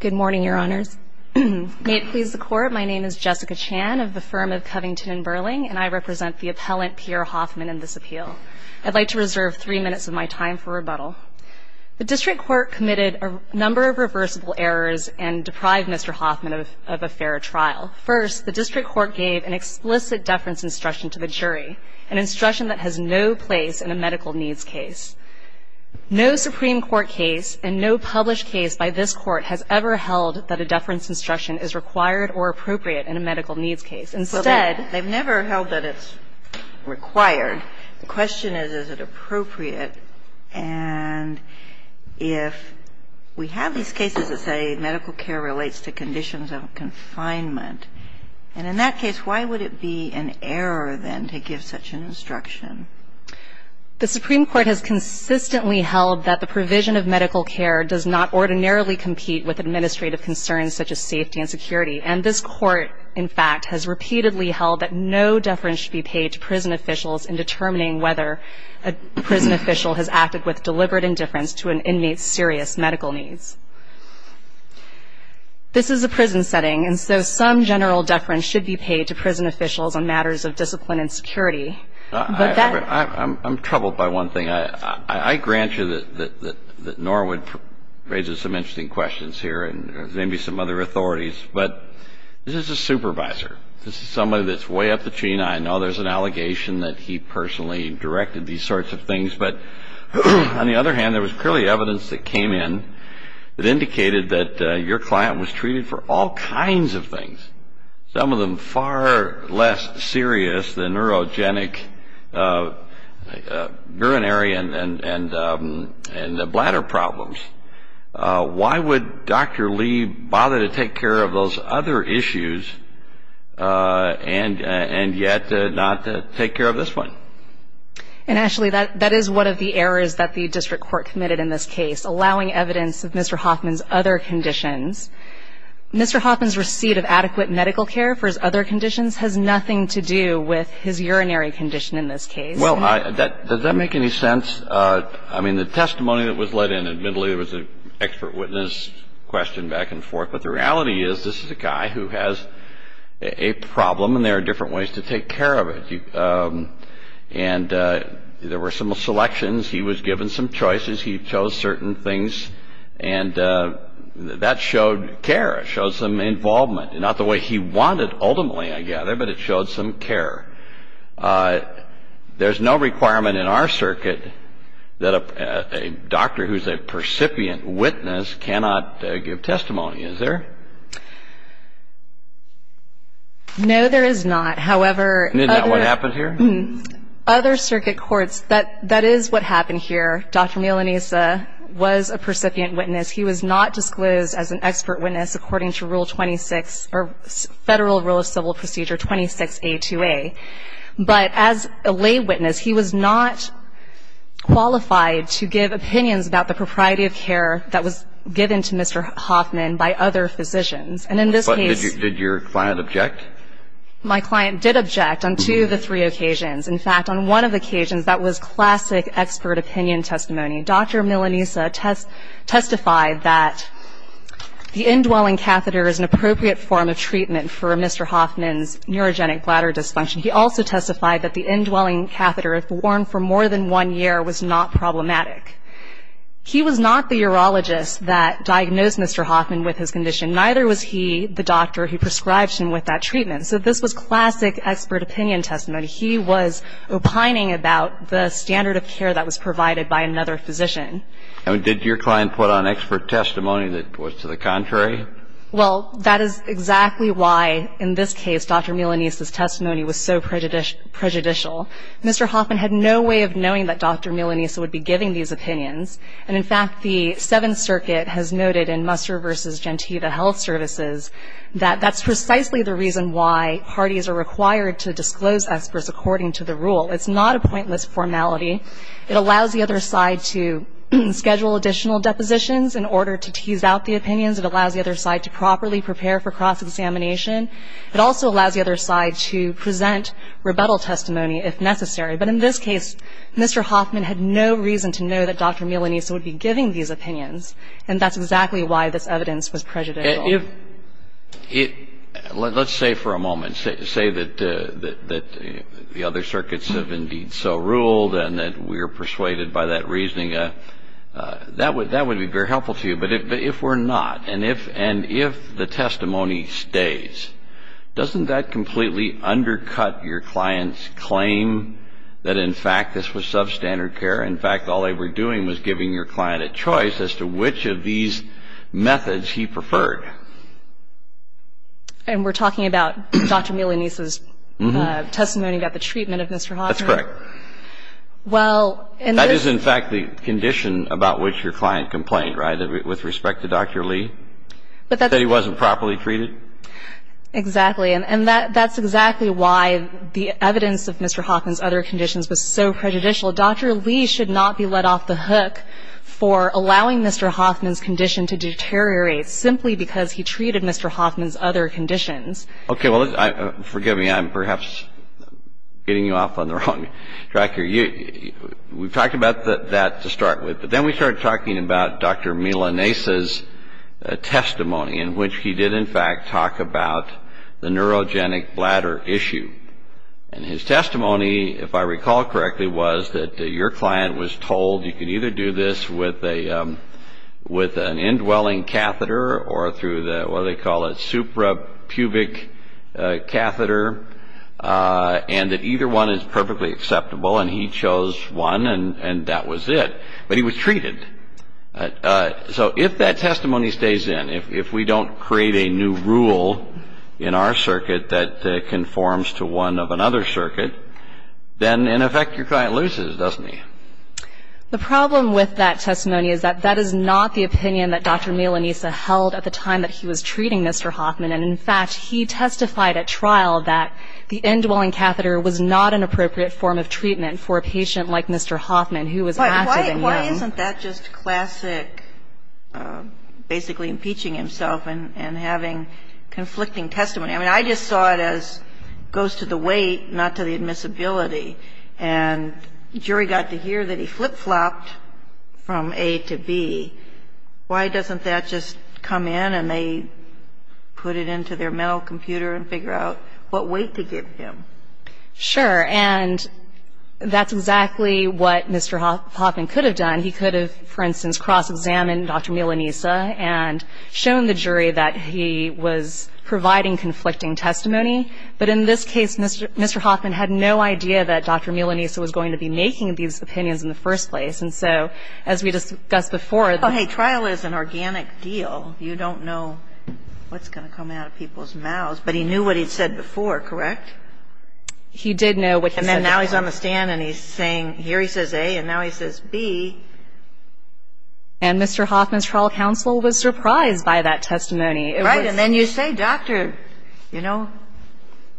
Good morning, Your Honors. May it please the Court, my name is Jessica Chan of the firm of Covington & Burling, and I represent the appellant Pierre Hoffman in this appeal. I'd like to reserve three minutes of my time for rebuttal. The District Court committed a number of reversible errors and deprived Mr. Hoffman of a fair trial. First, the District Court gave an explicit deference instruction to the jury, an instruction that has no place in a medical needs case. No Supreme Court case and no published case by this Court has ever held that a deference instruction is required or appropriate in a medical needs case. Instead they've never held that it's required. The question is, is it appropriate? And if we have these cases that say medical care relates to conditions of confinement, and in that case, why would it be an error, then, to give such an instruction? The Supreme Court has consistently held that the provision of medical care does not ordinarily compete with administrative concerns such as safety and security. And this Court, in fact, has repeatedly held that no deference should be paid to prison officials in determining whether a prison official has acted with deliberate indifference to an inmate's serious medical needs. This is a prison setting, and so some general deference should be paid to prison officials on matters of discipline and security. I'm troubled by one thing. I grant you that Norwood raises some interesting questions here and maybe some other authorities, but this is a supervisor. This is somebody that's way up the chain. I know there's an allegation that he personally directed these sorts of things, but on the other hand, there was clearly evidence that came in that indicated that your client was treated for all kinds of things, some of them far less serious than neurogenic, urinary, and bladder problems. Why would Dr. Lee bother to take care of those other issues and yet not take care of this one? And, Ashley, that is one of the errors that the district court committed in this case, allowing evidence of Mr. Hoffman's other conditions. Mr. Hoffman's receipt of adequate medical care for his other conditions has nothing to do with his urinary condition in this case. Well, does that make any sense? I mean, the testimony that was let in, admittedly, was an expert witness question back and forth, but the reality is this is a guy who has a problem, and there are different ways to take care of it. And there were some selections. He was given some choices. He chose certain things. And that showed care, showed some involvement. Not the way he wanted, ultimately, I gather, but it showed some care. There's no requirement in our circuit that a doctor who's a percipient witness cannot give testimony, is there? No, there is not. However, other circuit courts, that is what happened here. Dr. Milanese was a percipient witness. He was not disclosed as an expert witness according to Rule 26 or Federal Rule of Civil Procedure 26A2A. But as a lay witness, he was not qualified to give opinions about the propriety of care that was given to Mr. Hoffman by other physicians. And in this case ---- But did your client object? My client did object on two of the three occasions. In fact, on one of the occasions, that was classic expert opinion testimony. Dr. Milanese testified that the indwelling catheter is an appropriate form of treatment for Mr. Hoffman's neurogenic bladder dysfunction. He also testified that the indwelling catheter, if worn for more than one year, was not problematic. He was not the urologist that diagnosed Mr. Hoffman with his condition. Neither was he the doctor who prescribed him with that treatment. So this was classic expert opinion testimony. He was opining about the standard of care that was provided by another physician. And did your client put on expert testimony that was to the contrary? Well, that is exactly why, in this case, Dr. Milanese's testimony was so prejudicial. Mr. Hoffman had no way of knowing that Dr. Milanese would be giving these opinions. And, in fact, the Seventh Circuit has noted in Musser v. Gentita Health Services that that's precisely the reason why parties are required to disclose experts according to the rule. It's not a pointless formality. It allows the other side to schedule additional depositions in order to tease out the opinions. It allows the other side to properly prepare for cross-examination. It also allows the other side to present rebuttal testimony if necessary. But in this case, Mr. Hoffman had no reason to know that Dr. Milanese would be giving these opinions, and that's exactly why this evidence was prejudicial. Let's say for a moment, say that the other circuits have indeed so ruled and that we are persuaded by that reasoning. That would be very helpful to you. But if we're not, and if the testimony stays, doesn't that completely undercut your client's claim that, in fact, this was substandard care? In fact, all they were doing was giving your client a choice as to which of these methods he preferred. And we're talking about Dr. Milanese's testimony about the treatment of Mr. Hoffman? That's correct. Well, in this... That is, in fact, the condition about which your client complained, right, with respect to Dr. Lee? But that's... That he wasn't properly treated? Exactly. And that's exactly why the evidence of Mr. Hoffman's other conditions was so prejudicial. Dr. Lee should not be let off the hook for allowing Mr. Hoffman's condition to deteriorate simply because he treated Mr. Hoffman's other conditions. Okay. Well, forgive me. I'm perhaps getting you off on the wrong track here. We've talked about that to start with, but then we started talking about Dr. Milanese's testimony, in which he did, in fact, talk about the neurogenic bladder issue. And his testimony, if I recall correctly, was that your client was told you could either do this with an indwelling catheter or through the, what do they call it, suprapubic catheter, and that either one is perfectly acceptable. And he chose one, and that was it. But he was treated. So if that testimony stays in, if we don't create a new rule in our circuit that conforms to one of another circuit, then, in effect, your client loses, doesn't he? The problem with that testimony is that that is not the opinion that Dr. Milanese held at the time that he was treating Mr. Hoffman. And, in fact, he testified at trial that the indwelling catheter was not an appropriate form of treatment Why isn't that just classic basically impeaching himself and having conflicting testimony? I mean, I just saw it as goes to the weight, not to the admissibility. And the jury got to hear that he flip-flopped from A to B. Why doesn't that just come in and they put it into their mental computer and figure out what weight to give him? Sure. And that's exactly what Mr. Hoffman could have done. He could have, for instance, cross-examined Dr. Milanese and shown the jury that he was providing conflicting testimony. But in this case, Mr. Hoffman had no idea that Dr. Milanese was going to be making these opinions in the first place. And so, as we discussed before, the trial is an organic deal. You don't know what's going to come out of people's mouths. But he knew what he'd said before, correct? He did know what he said before. And then now he's on the stand and he's saying, here he says A and now he says B. And Mr. Hoffman's trial counsel was surprised by that testimony. Right. And then you say, Doctor, you know,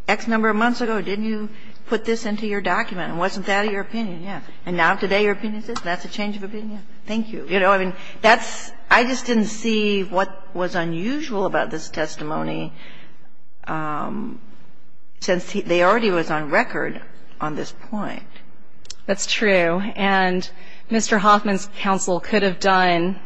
X number of months ago, didn't you put this into your document and wasn't that your opinion? Yeah. And now today your opinion is this? That's a change of opinion? Yeah. Thank you. You know, I mean, that's – I just didn't see what was unusual about this testimony since they already was on record on this point. That's true. And Mr. Hoffman's counsel could have done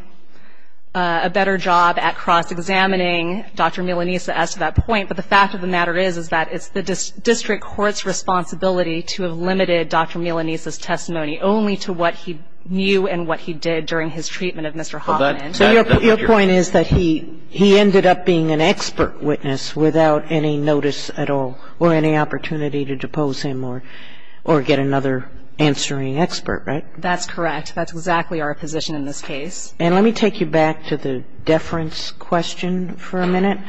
a better job at cross-examining Dr. Milanese as to that point. But the fact of the matter is, is that it's the district court's responsibility to have limited Dr. Milanese's testimony only to what he knew and what he did during his treatment of Mr. Hoffman. So your point is that he ended up being an expert witness without any notice at all or any opportunity to depose him or get another answering expert, right? That's correct. That's exactly our position in this case. And let me take you back to the deference question for a minute.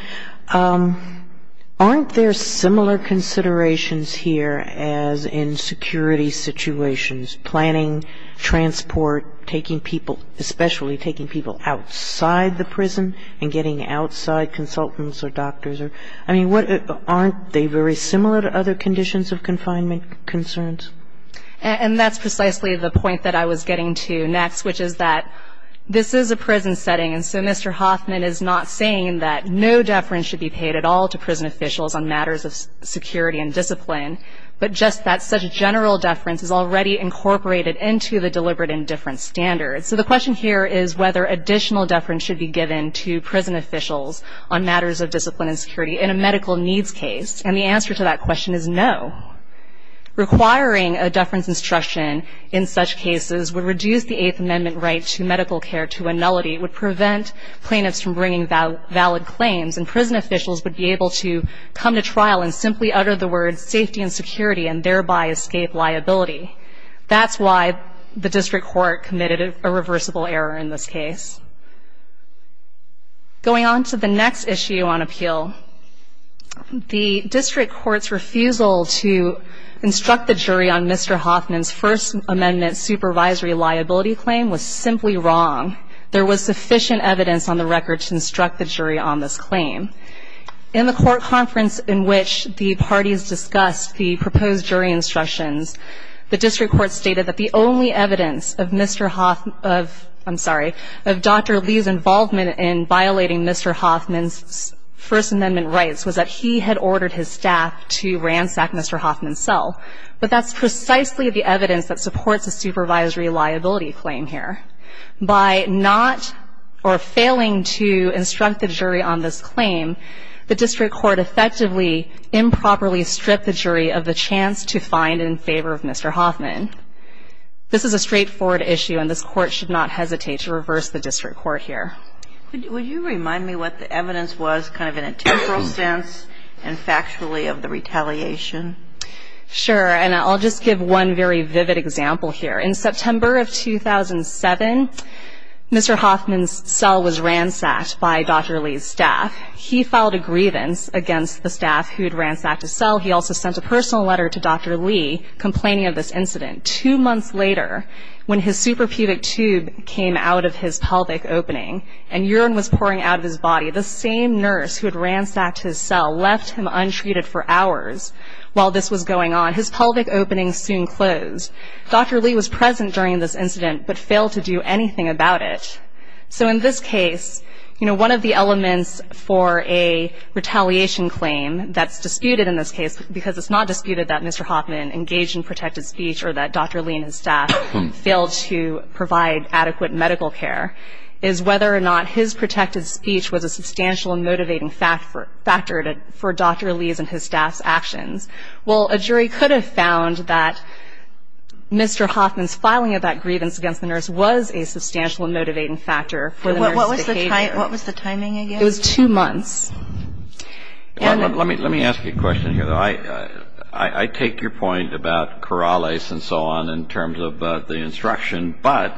Aren't there similar considerations here as in security situations, planning, transport, taking people, especially taking people outside the prison and getting outside consultants or doctors? I mean, aren't they very similar to other conditions of confinement concerns? And that's precisely the point that I was getting to next, which is that this is a prison setting, and so Mr. Hoffman is not saying that no deference should be paid at all to prison officials on matters of security and discipline, but just that such a general deference is already incorporated into the deliberate indifference standard. So the question here is whether additional deference should be given to prison officials on matters of discipline and security in a medical needs case. And the answer to that question is no. Requiring a deference instruction in such cases would reduce the Eighth Amendment right to medical care to a nullity, would prevent plaintiffs from bringing valid claims, and prison officials would be able to come to trial and simply utter the words safety and security and thereby escape liability. That's why the district court committed a reversible error in this case. Going on to the next issue on appeal, the district court's refusal to instruct the jury on Mr. Hoffman's First Amendment supervisory liability claim was simply wrong. There was sufficient evidence on the record to instruct the jury on this claim. In the court conference in which the parties discussed the proposed jury instructions, the district court stated that the only evidence of Dr. Lee's involvement in violating Mr. Hoffman's First Amendment rights was that he had ordered his staff to ransack Mr. Hoffman's cell. But that's precisely the evidence that supports a supervisory liability claim here. By not or failing to instruct the jury on this claim, the district court effectively improperly stripped the jury of the chance to find in favor of Mr. Hoffman. This is a straightforward issue, and this court should not hesitate to reverse the district court here. Would you remind me what the evidence was kind of in a temporal sense and factually of the retaliation? Sure. And I'll just give one very vivid example here. In September of 2007, Mr. Hoffman's cell was ransacked by Dr. Lee's staff. He filed a grievance against the staff who had ransacked his cell. He also sent a personal letter to Dr. Lee complaining of this incident. Two months later, when his suprapubic tube came out of his pelvic opening and urine was pouring out of his body, the same nurse who had ransacked his cell left him untreated for hours while this was going on. His pelvic opening soon closed. Dr. Lee was present during this incident but failed to do anything about it. So in this case, you know, one of the elements for a retaliation claim that's disputed in this case, because it's not disputed that Mr. Hoffman engaged in protected speech or that Dr. Lee and his staff failed to provide adequate medical care, is whether or not his protected speech was a substantial and motivating factor for Dr. Lee's and his staff's actions. Well, a jury could have found that Mr. Hoffman's filing of that grievance against the nurse was a substantial and motivating factor for the nurse's behavior. What was the timing again? It was two months. Let me ask you a question here, though. I take your point about Corrales and so on in terms of the instruction, but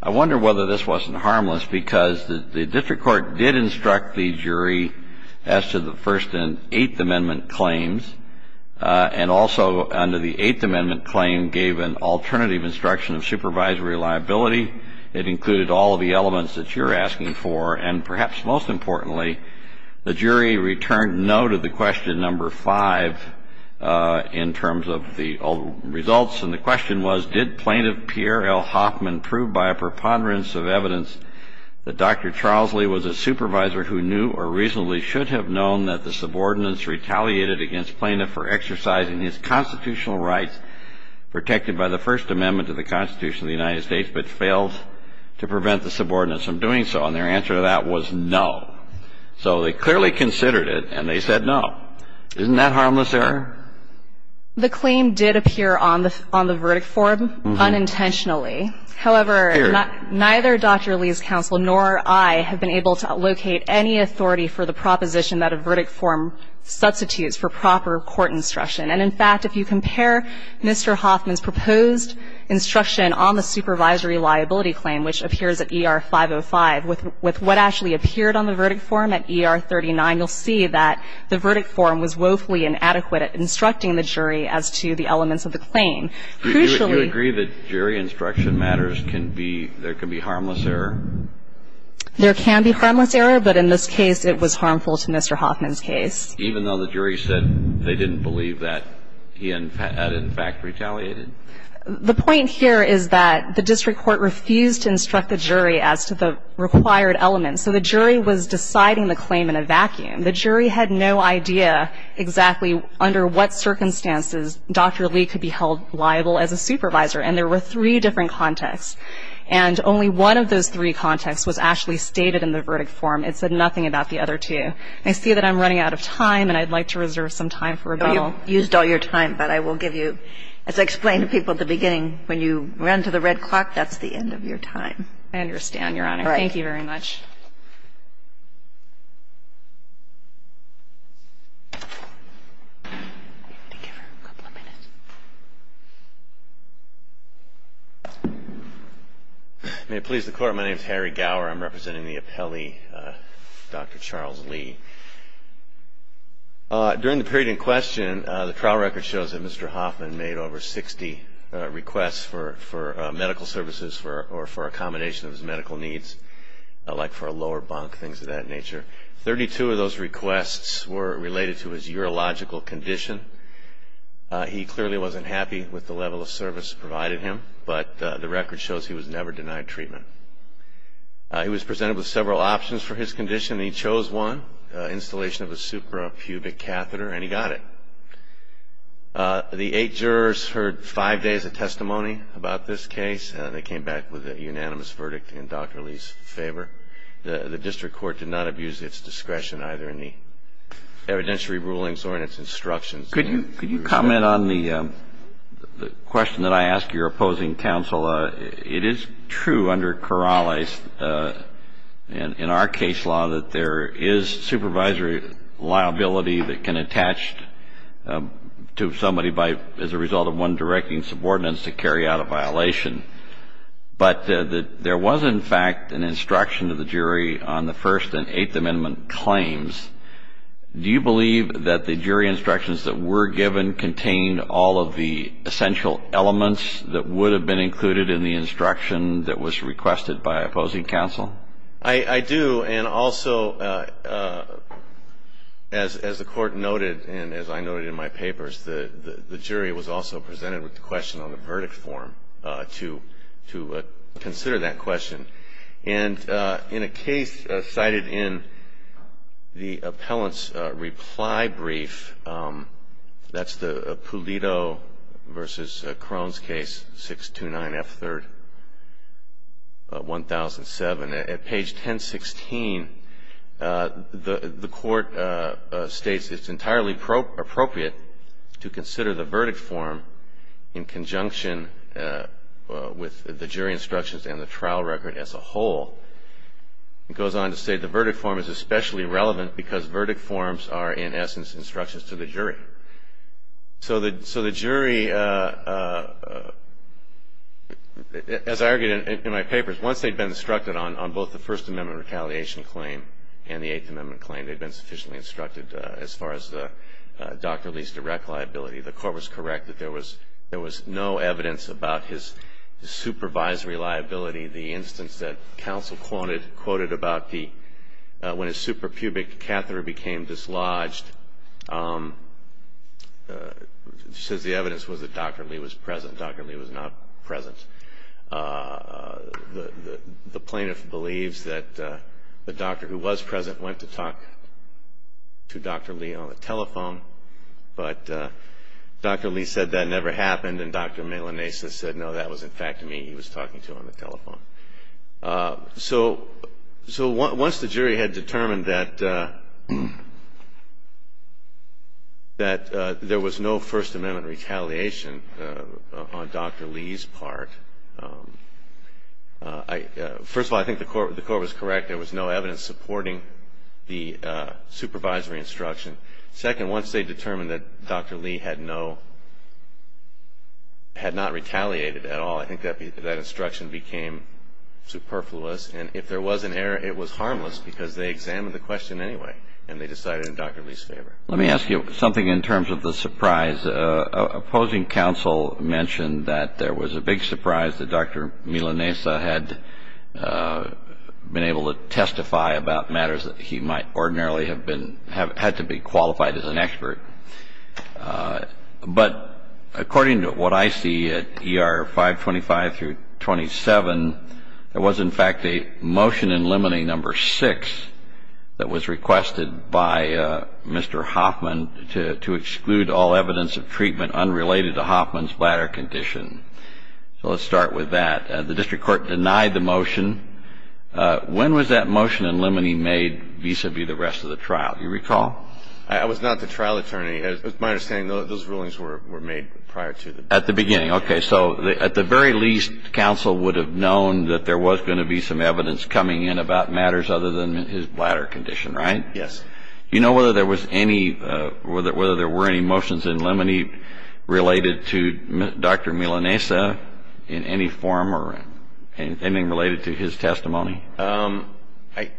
I wonder whether this wasn't harmless because the district court did instruct the jury as to the First and Eighth Amendment claims and also under the Eighth Amendment claim gave an alternative instruction of supervisory liability. It included all of the elements that you're asking for, and perhaps most importantly, the jury returned no to the question number five in terms of the results, and the question was did plaintiff Pierre L. Hoffman prove by a preponderance of evidence that Dr. Charles Lee was a supervisor who knew or reasonably should have known that the subordinates retaliated against plaintiff for exercising his constitutional rights protected by the First Amendment to the Constitution of the United States but failed to prevent the subordinates from doing so, and their answer to that was no. So they clearly considered it, and they said no. Isn't that harmless error? The claim did appear on the verdict form unintentionally. However, neither Dr. Lee's counsel nor I have been able to locate any authority for the proposition that a verdict form substitutes for proper court instruction. And in fact, if you compare Mr. Hoffman's proposed instruction on the supervisory liability claim, which appears at ER 505 with what actually appeared on the verdict form at ER 39, you'll see that the verdict form was woefully inadequate at instructing the jury as to the elements of the claim. Do you agree that jury instruction matters can be, there can be harmless error? There can be harmless error, but in this case it was harmful to Mr. Hoffman's case. Even though the jury said they didn't believe that he had in fact retaliated? The point here is that the district court refused to instruct the jury as to the required elements, so the jury was deciding the claim in a vacuum. The jury had no idea exactly under what circumstances Dr. Lee could be held liable as a supervisor, and there were three different contexts. And only one of those three contexts was actually stated in the verdict form. It said nothing about the other two. I see that I'm running out of time, and I'd like to reserve some time for rebuttal. You've used all your time, but I will give you, as I explained to people at the beginning, when you run to the red clock, that's the end of your time. I understand, Your Honor. All right. Thank you very much. May it please the Court, my name is Harry Gower. I'm representing the appellee, Dr. Charles Lee. During the period in question, the trial record shows that Mr. Hoffman made over 60 requests for medical services or for accommodation of his medical needs, like for a lower bunk, things of that nature. Thirty-two of those requests were related to his urological condition. He clearly wasn't happy with the level of service provided him, but the record shows he was never denied treatment. He was presented with several options for his condition, and he chose one, installation of a suprapubic catheter, and he got it. The eight jurors heard five days of testimony about this case. They came back with a unanimous verdict in Dr. Lee's favor. The district court did not abuse its discretion either in the evidentiary rulings or in its instructions. Could you comment on the question that I ask your opposing counsel? Well, it is true under Corrales, in our case law, that there is supervisory liability that can attach to somebody as a result of one directing subordinates to carry out a violation. But there was, in fact, an instruction of the jury on the First and Eighth Amendment claims. Do you believe that the jury instructions that were given contained all of the essential elements that would have been included in the instruction that was requested by opposing counsel? I do. And also, as the Court noted and as I noted in my papers, the jury was also presented with the question on the verdict form to consider that question. And in a case cited in the appellant's reply brief, that's the Pulido v. Crohn's case, 629F3rd, 1007. At page 1016, the Court states it's entirely appropriate to consider the verdict form in conjunction with the jury instructions and the trial record as a whole. It goes on to say the verdict form is especially relevant because verdict forms are, in essence, instructions to the jury. So the jury, as I argued in my papers, once they'd been instructed on both the First Amendment retaliation claim and the Eighth Amendment claim, they'd been sufficiently instructed as far as the doctor-lease-direct liability. The Court was correct that there was no evidence about his supervisory liability. The instance that counsel quoted about when his suprapubic catheter became dislodged, says the evidence was that Dr. Lee was present. Dr. Lee was not present. The plaintiff believes that the doctor who was present went to talk to Dr. Lee on the telephone, but Dr. Lee said that never happened and Dr. Melanesa said, no, that was, in fact, me he was talking to on the telephone. So once the jury had determined that there was no First Amendment retaliation on Dr. Lee's part, first of all, I think the Court was correct. There was no evidence supporting the supervisory instruction. Second, once they determined that Dr. Lee had no, had not retaliated at all, I think that instruction became superfluous. And if there was an error, it was harmless because they examined the question anyway and they decided in Dr. Lee's favor. Let me ask you something in terms of the surprise. Opposing counsel mentioned that there was a big surprise that Dr. Melanesa had been able to testify about matters that he might ordinarily have been, had to be qualified as an expert. But according to what I see at ER 525 through 27, there was, in fact, a motion in limine number 6 that was requested by Mr. Hoffman to exclude all evidence of treatment unrelated to Hoffman's bladder condition. So let's start with that. The district court denied the motion. When was that motion in limine made vis-a-vis the rest of the trial? Do you recall? I was not the trial attorney. As my understanding, those rulings were made prior to the trial. At the beginning. Okay. So at the very least, counsel would have known that there was going to be some evidence coming in about matters other than his bladder condition, right? Yes. You know whether there was any, whether there were any motions in limine related to Dr. Melanesa in any form or anything related to his testimony?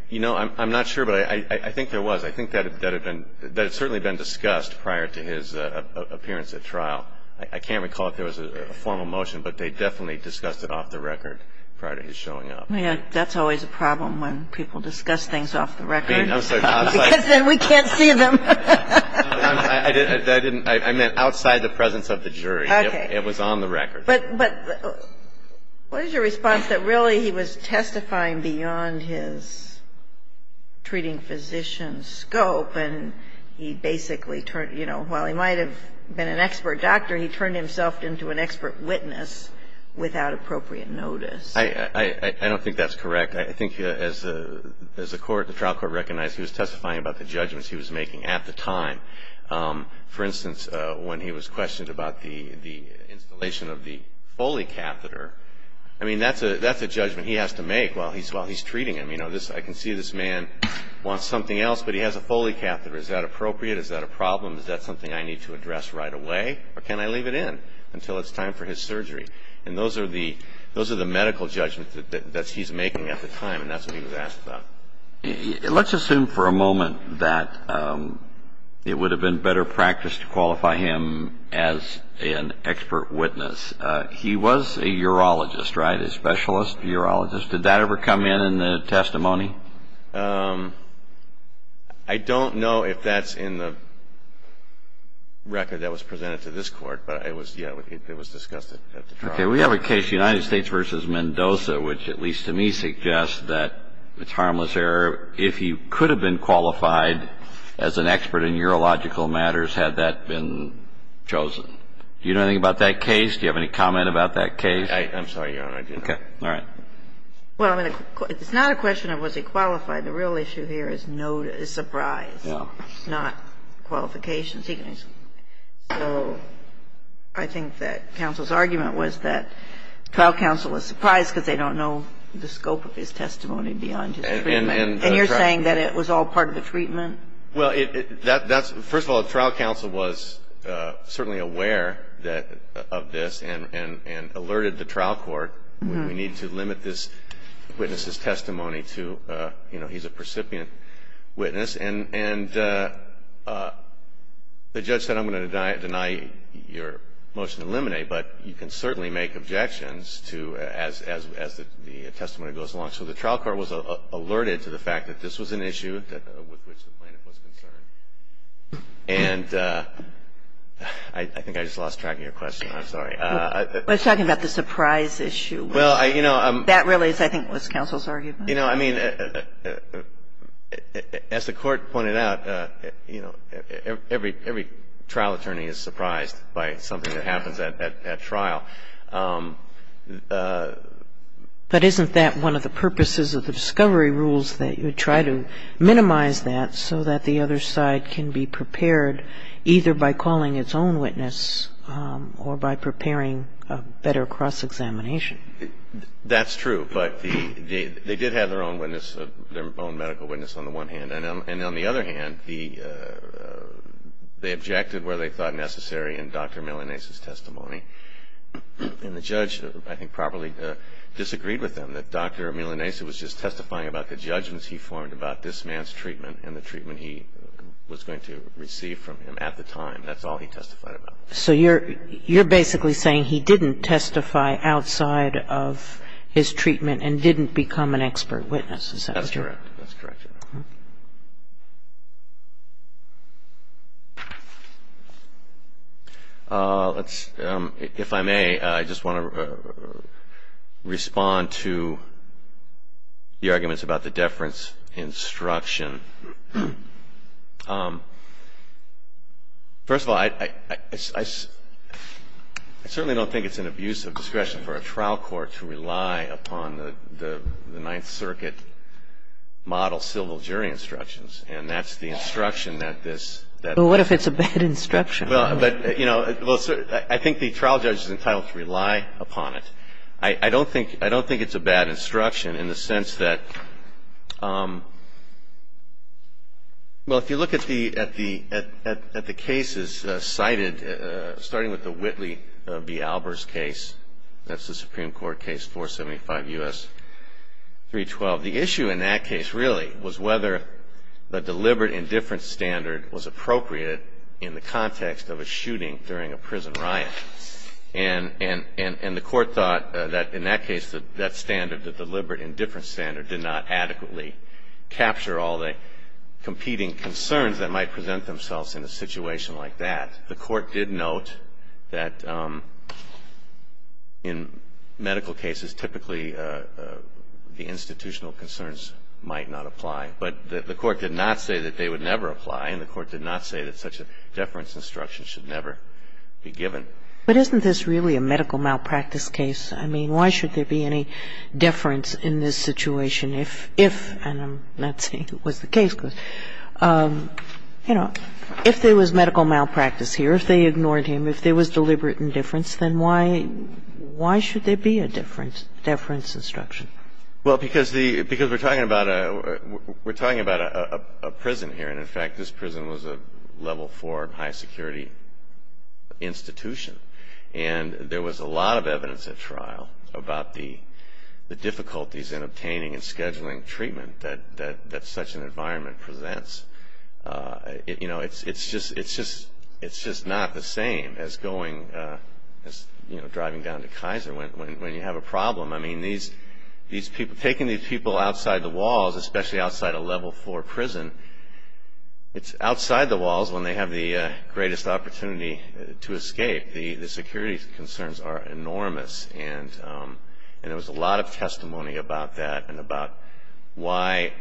You know, I'm not sure, but I think there was. I think that had been, that had certainly been discussed prior to his appearance at trial. I can't recall if there was a formal motion, but they definitely discussed it off the record prior to his showing up. That's always a problem when people discuss things off the record. I'm sorry. Because then we can't see them. I didn't, I meant outside the presence of the jury. Okay. It was on the record. But what is your response that really he was testifying beyond his treating physician scope and he basically turned, you know, while he might have been an expert doctor, he turned himself into an expert witness without appropriate notice? I don't think that's correct. I think as the court, the trial court recognized he was testifying about the judgments he was making at the time. For instance, when he was questioned about the installation of the Foley catheter, I mean, that's a judgment he has to make while he's treating him. You know, I can see this man wants something else, but he has a Foley catheter. Is that appropriate? Is that a problem? Is that something I need to address right away, or can I leave it in until it's time for his surgery? And those are the medical judgments that he's making at the time, and that's what he was asked about. Let's assume for a moment that it would have been better practice to qualify him as an expert witness. He was a urologist, right, a specialist urologist. Did that ever come in in the testimony? I don't know if that's in the record that was presented to this court, but it was discussed at the trial. Okay. We have a case, United States v. Mendoza, which, at least to me, suggests that it's harmless error. If he could have been qualified as an expert in urological matters, had that been chosen? Do you know anything about that case? Do you have any comment about that case? I'm sorry, Your Honor. Okay. All right. Well, I mean, it's not a question of was he qualified. The real issue here is surprise, not qualifications. So I think that counsel's argument was that trial counsel was surprised because they don't know the scope of his testimony beyond his treatment. And you're saying that it was all part of the treatment? Well, that's – first of all, the trial counsel was certainly aware of this and alerted the trial court, we need to limit this witness's testimony to, you know, he's a precipient witness. And the judge said, I'm going to deny your motion to eliminate, but you can certainly make objections as the testimony goes along. So the trial court was alerted to the fact that this was an issue with which the plaintiff was concerned. And I think I just lost track of your question. I'm sorry. We're talking about the surprise issue. Well, you know, I'm – That really is, I think, what counsel's arguing. You know, I mean, as the Court pointed out, you know, every trial attorney is surprised by something that happens at trial. But isn't that one of the purposes of the discovery rules that you try to minimize that so that the other side can be prepared either by calling its own witness or by preparing a better cross-examination? That's true. But they did have their own witness, their own medical witness on the one hand. And on the other hand, they objected where they thought necessary in Dr. Milanesa's testimony. And the judge, I think, properly disagreed with them, that Dr. Milanesa was just testifying about the judgments he formed about this man's treatment and the treatment he was going to receive from him at the time. That's all he testified about. So you're basically saying he didn't testify outside of his treatment and didn't become an expert witness, is that what you're saying? That's correct. That's correct. If I may, I just want to respond to your arguments about the deference instruction. First of all, I certainly don't think it's an abuse of discretion for a trial court to rely upon the Ninth Circuit model civil jury instructions. And that's the instruction that this does. Well, what if it's a bad instruction? Well, but, you know, I think the trial judge is entitled to rely upon it. I don't think it's a bad instruction in the sense that, you know, Well, if you look at the cases cited, starting with the Whitley v. Albers case, that's the Supreme Court case 475 U.S. 312, the issue in that case really was whether the deliberate indifference standard was appropriate in the context of a shooting during a prison riot. And the court thought that in that case that standard, the deliberate indifference standard did not adequately capture all the competing concerns that might present themselves in a situation like that. The court did note that in medical cases typically the institutional concerns might not apply. But the court did not say that they would never apply, and the court did not say that such a deference instruction should never be given. But isn't this really a medical malpractice case? I mean, why should there be any deference in this situation if, and I'm not saying it was the case, because, you know, if there was medical malpractice here, if they ignored him, if there was deliberate indifference, then why should there be a deference instruction? Well, because we're talking about a prison here. And, in fact, this prison was a level 4 high security institution. And there was a lot of evidence at trial about the difficulties in obtaining and scheduling treatment that such an environment presents. You know, it's just not the same as driving down to Kaiser when you have a problem. I mean, taking these people outside the walls, especially outside a level 4 prison, it's outside the walls when they have the greatest opportunity to escape. The security concerns are enormous, and there was a lot of testimony about that and about why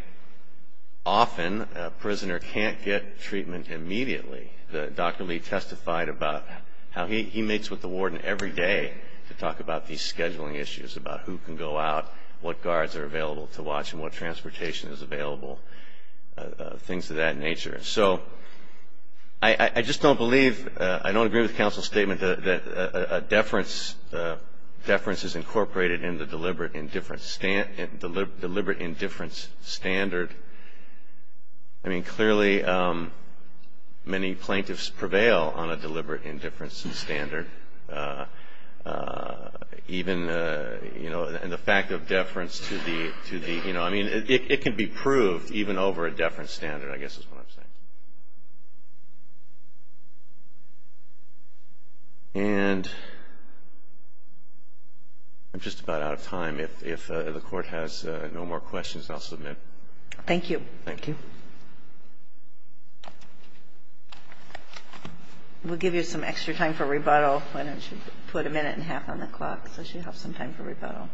often a prisoner can't get treatment immediately. Dr. Lee testified about how he meets with the warden every day to talk about these scheduling issues, about who can go out, what guards are available to watch and what transportation is available, things of that nature. So I just don't believe, I don't agree with the counsel's statement that a deference is incorporated in the deliberate indifference standard. I mean, clearly, many plaintiffs prevail on a deliberate indifference standard. Even, you know, and the fact of deference to the, you know, I mean, it can be proved even over a deference standard, I guess is what I'm saying. And I'm just about out of time. If the Court has no more questions, I'll submit. Thank you. Thank you. We'll give you some extra time for rebuttal. Why don't you put a minute and a half on the clock so she has some time for rebuttal.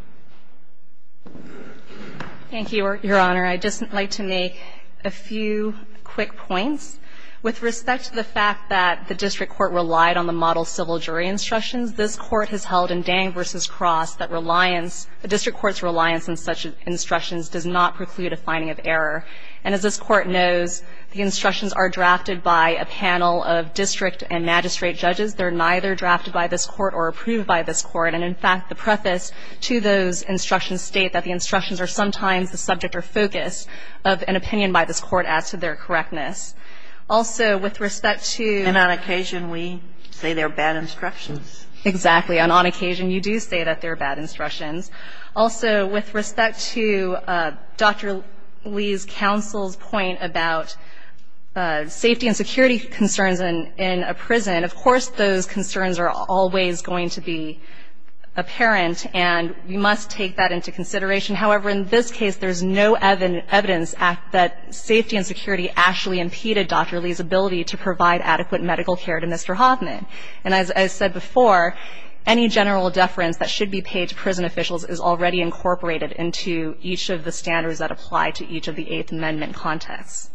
Thank you, Your Honor. I'd just like to make a few quick points. With respect to the fact that the district court relied on the model civil jury instructions, this Court has held in Dang v. Cross that reliance, the district court's reliance on such instructions does not preclude a finding of error. And as this Court knows, the instructions are drafted by a panel of district and magistrate judges. They're neither drafted by this Court or approved by this Court. And, in fact, the preface to those instructions state that the instructions are sometimes the subject or focus of an opinion by this Court as to their correctness. Also, with respect to the ---- And on occasion, we say they're bad instructions. Exactly. And on occasion, you do say that they're bad instructions. Also, with respect to Dr. Lee's counsel's point about safety and security concerns in a prison, of course those concerns are always going to be apparent, and we must take that into consideration. However, in this case, there's no evidence that safety and security actually impeded Dr. Lee's ability to provide adequate medical care to Mr. Hoffman. And as I said before, any general deference that should be paid to prison officials is already incorporated into each of the standards that apply to each of the Eighth Amendment contexts.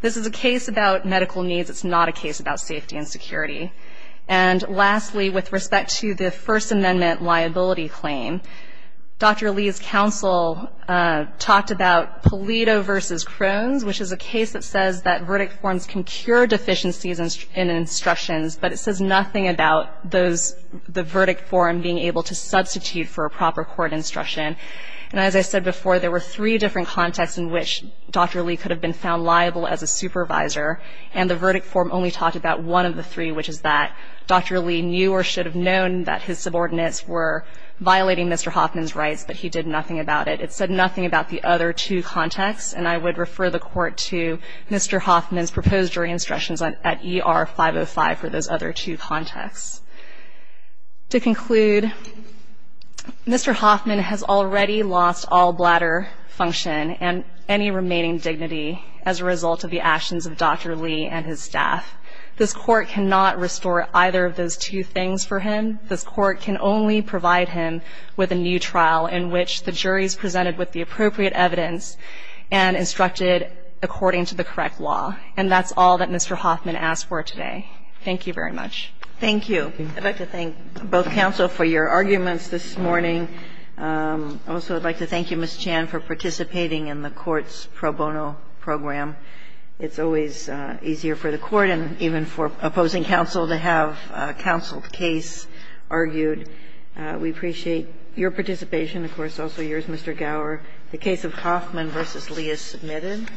This is a case about medical needs. It's not a case about safety and security. And lastly, with respect to the First Amendment liability claim, Dr. Lee's counsel talked about Polito v. Crohn's, which is a case that says that verdict forms can cure deficiencies in instructions, but it says nothing about the verdict form being able to substitute for a proper court instruction. And as I said before, there were three different contexts in which Dr. Lee could have been found liable as a supervisor, and the verdict form only talked about one of the three, which is that Dr. Lee knew or should have known that his subordinates were violating Mr. Hoffman's rights, but he did nothing about it. It said nothing about the other two contexts, and I would refer the Court to Mr. Hoffman's proposed jury instructions at ER 505 for those other two contexts. To conclude, Mr. Hoffman has already lost all bladder function and any remaining dignity as a result of the actions of Dr. Lee and his staff. This Court cannot restore either of those two things for him. This Court can only provide him with a new trial in which the jury is presented with the appropriate evidence and instructed according to the correct law. And that's all that Mr. Hoffman asked for today. Thank you very much. Thank you. I'd like to thank both counsel for your arguments this morning. I also would like to thank you, Ms. Chan, for participating in the Court's pro bono program. It's always easier for the Court and even for opposing counsel to have a counseled case argued. We appreciate your participation. Of course, also yours, Mr. Gower. The case of Hoffman v. Lee is submitted.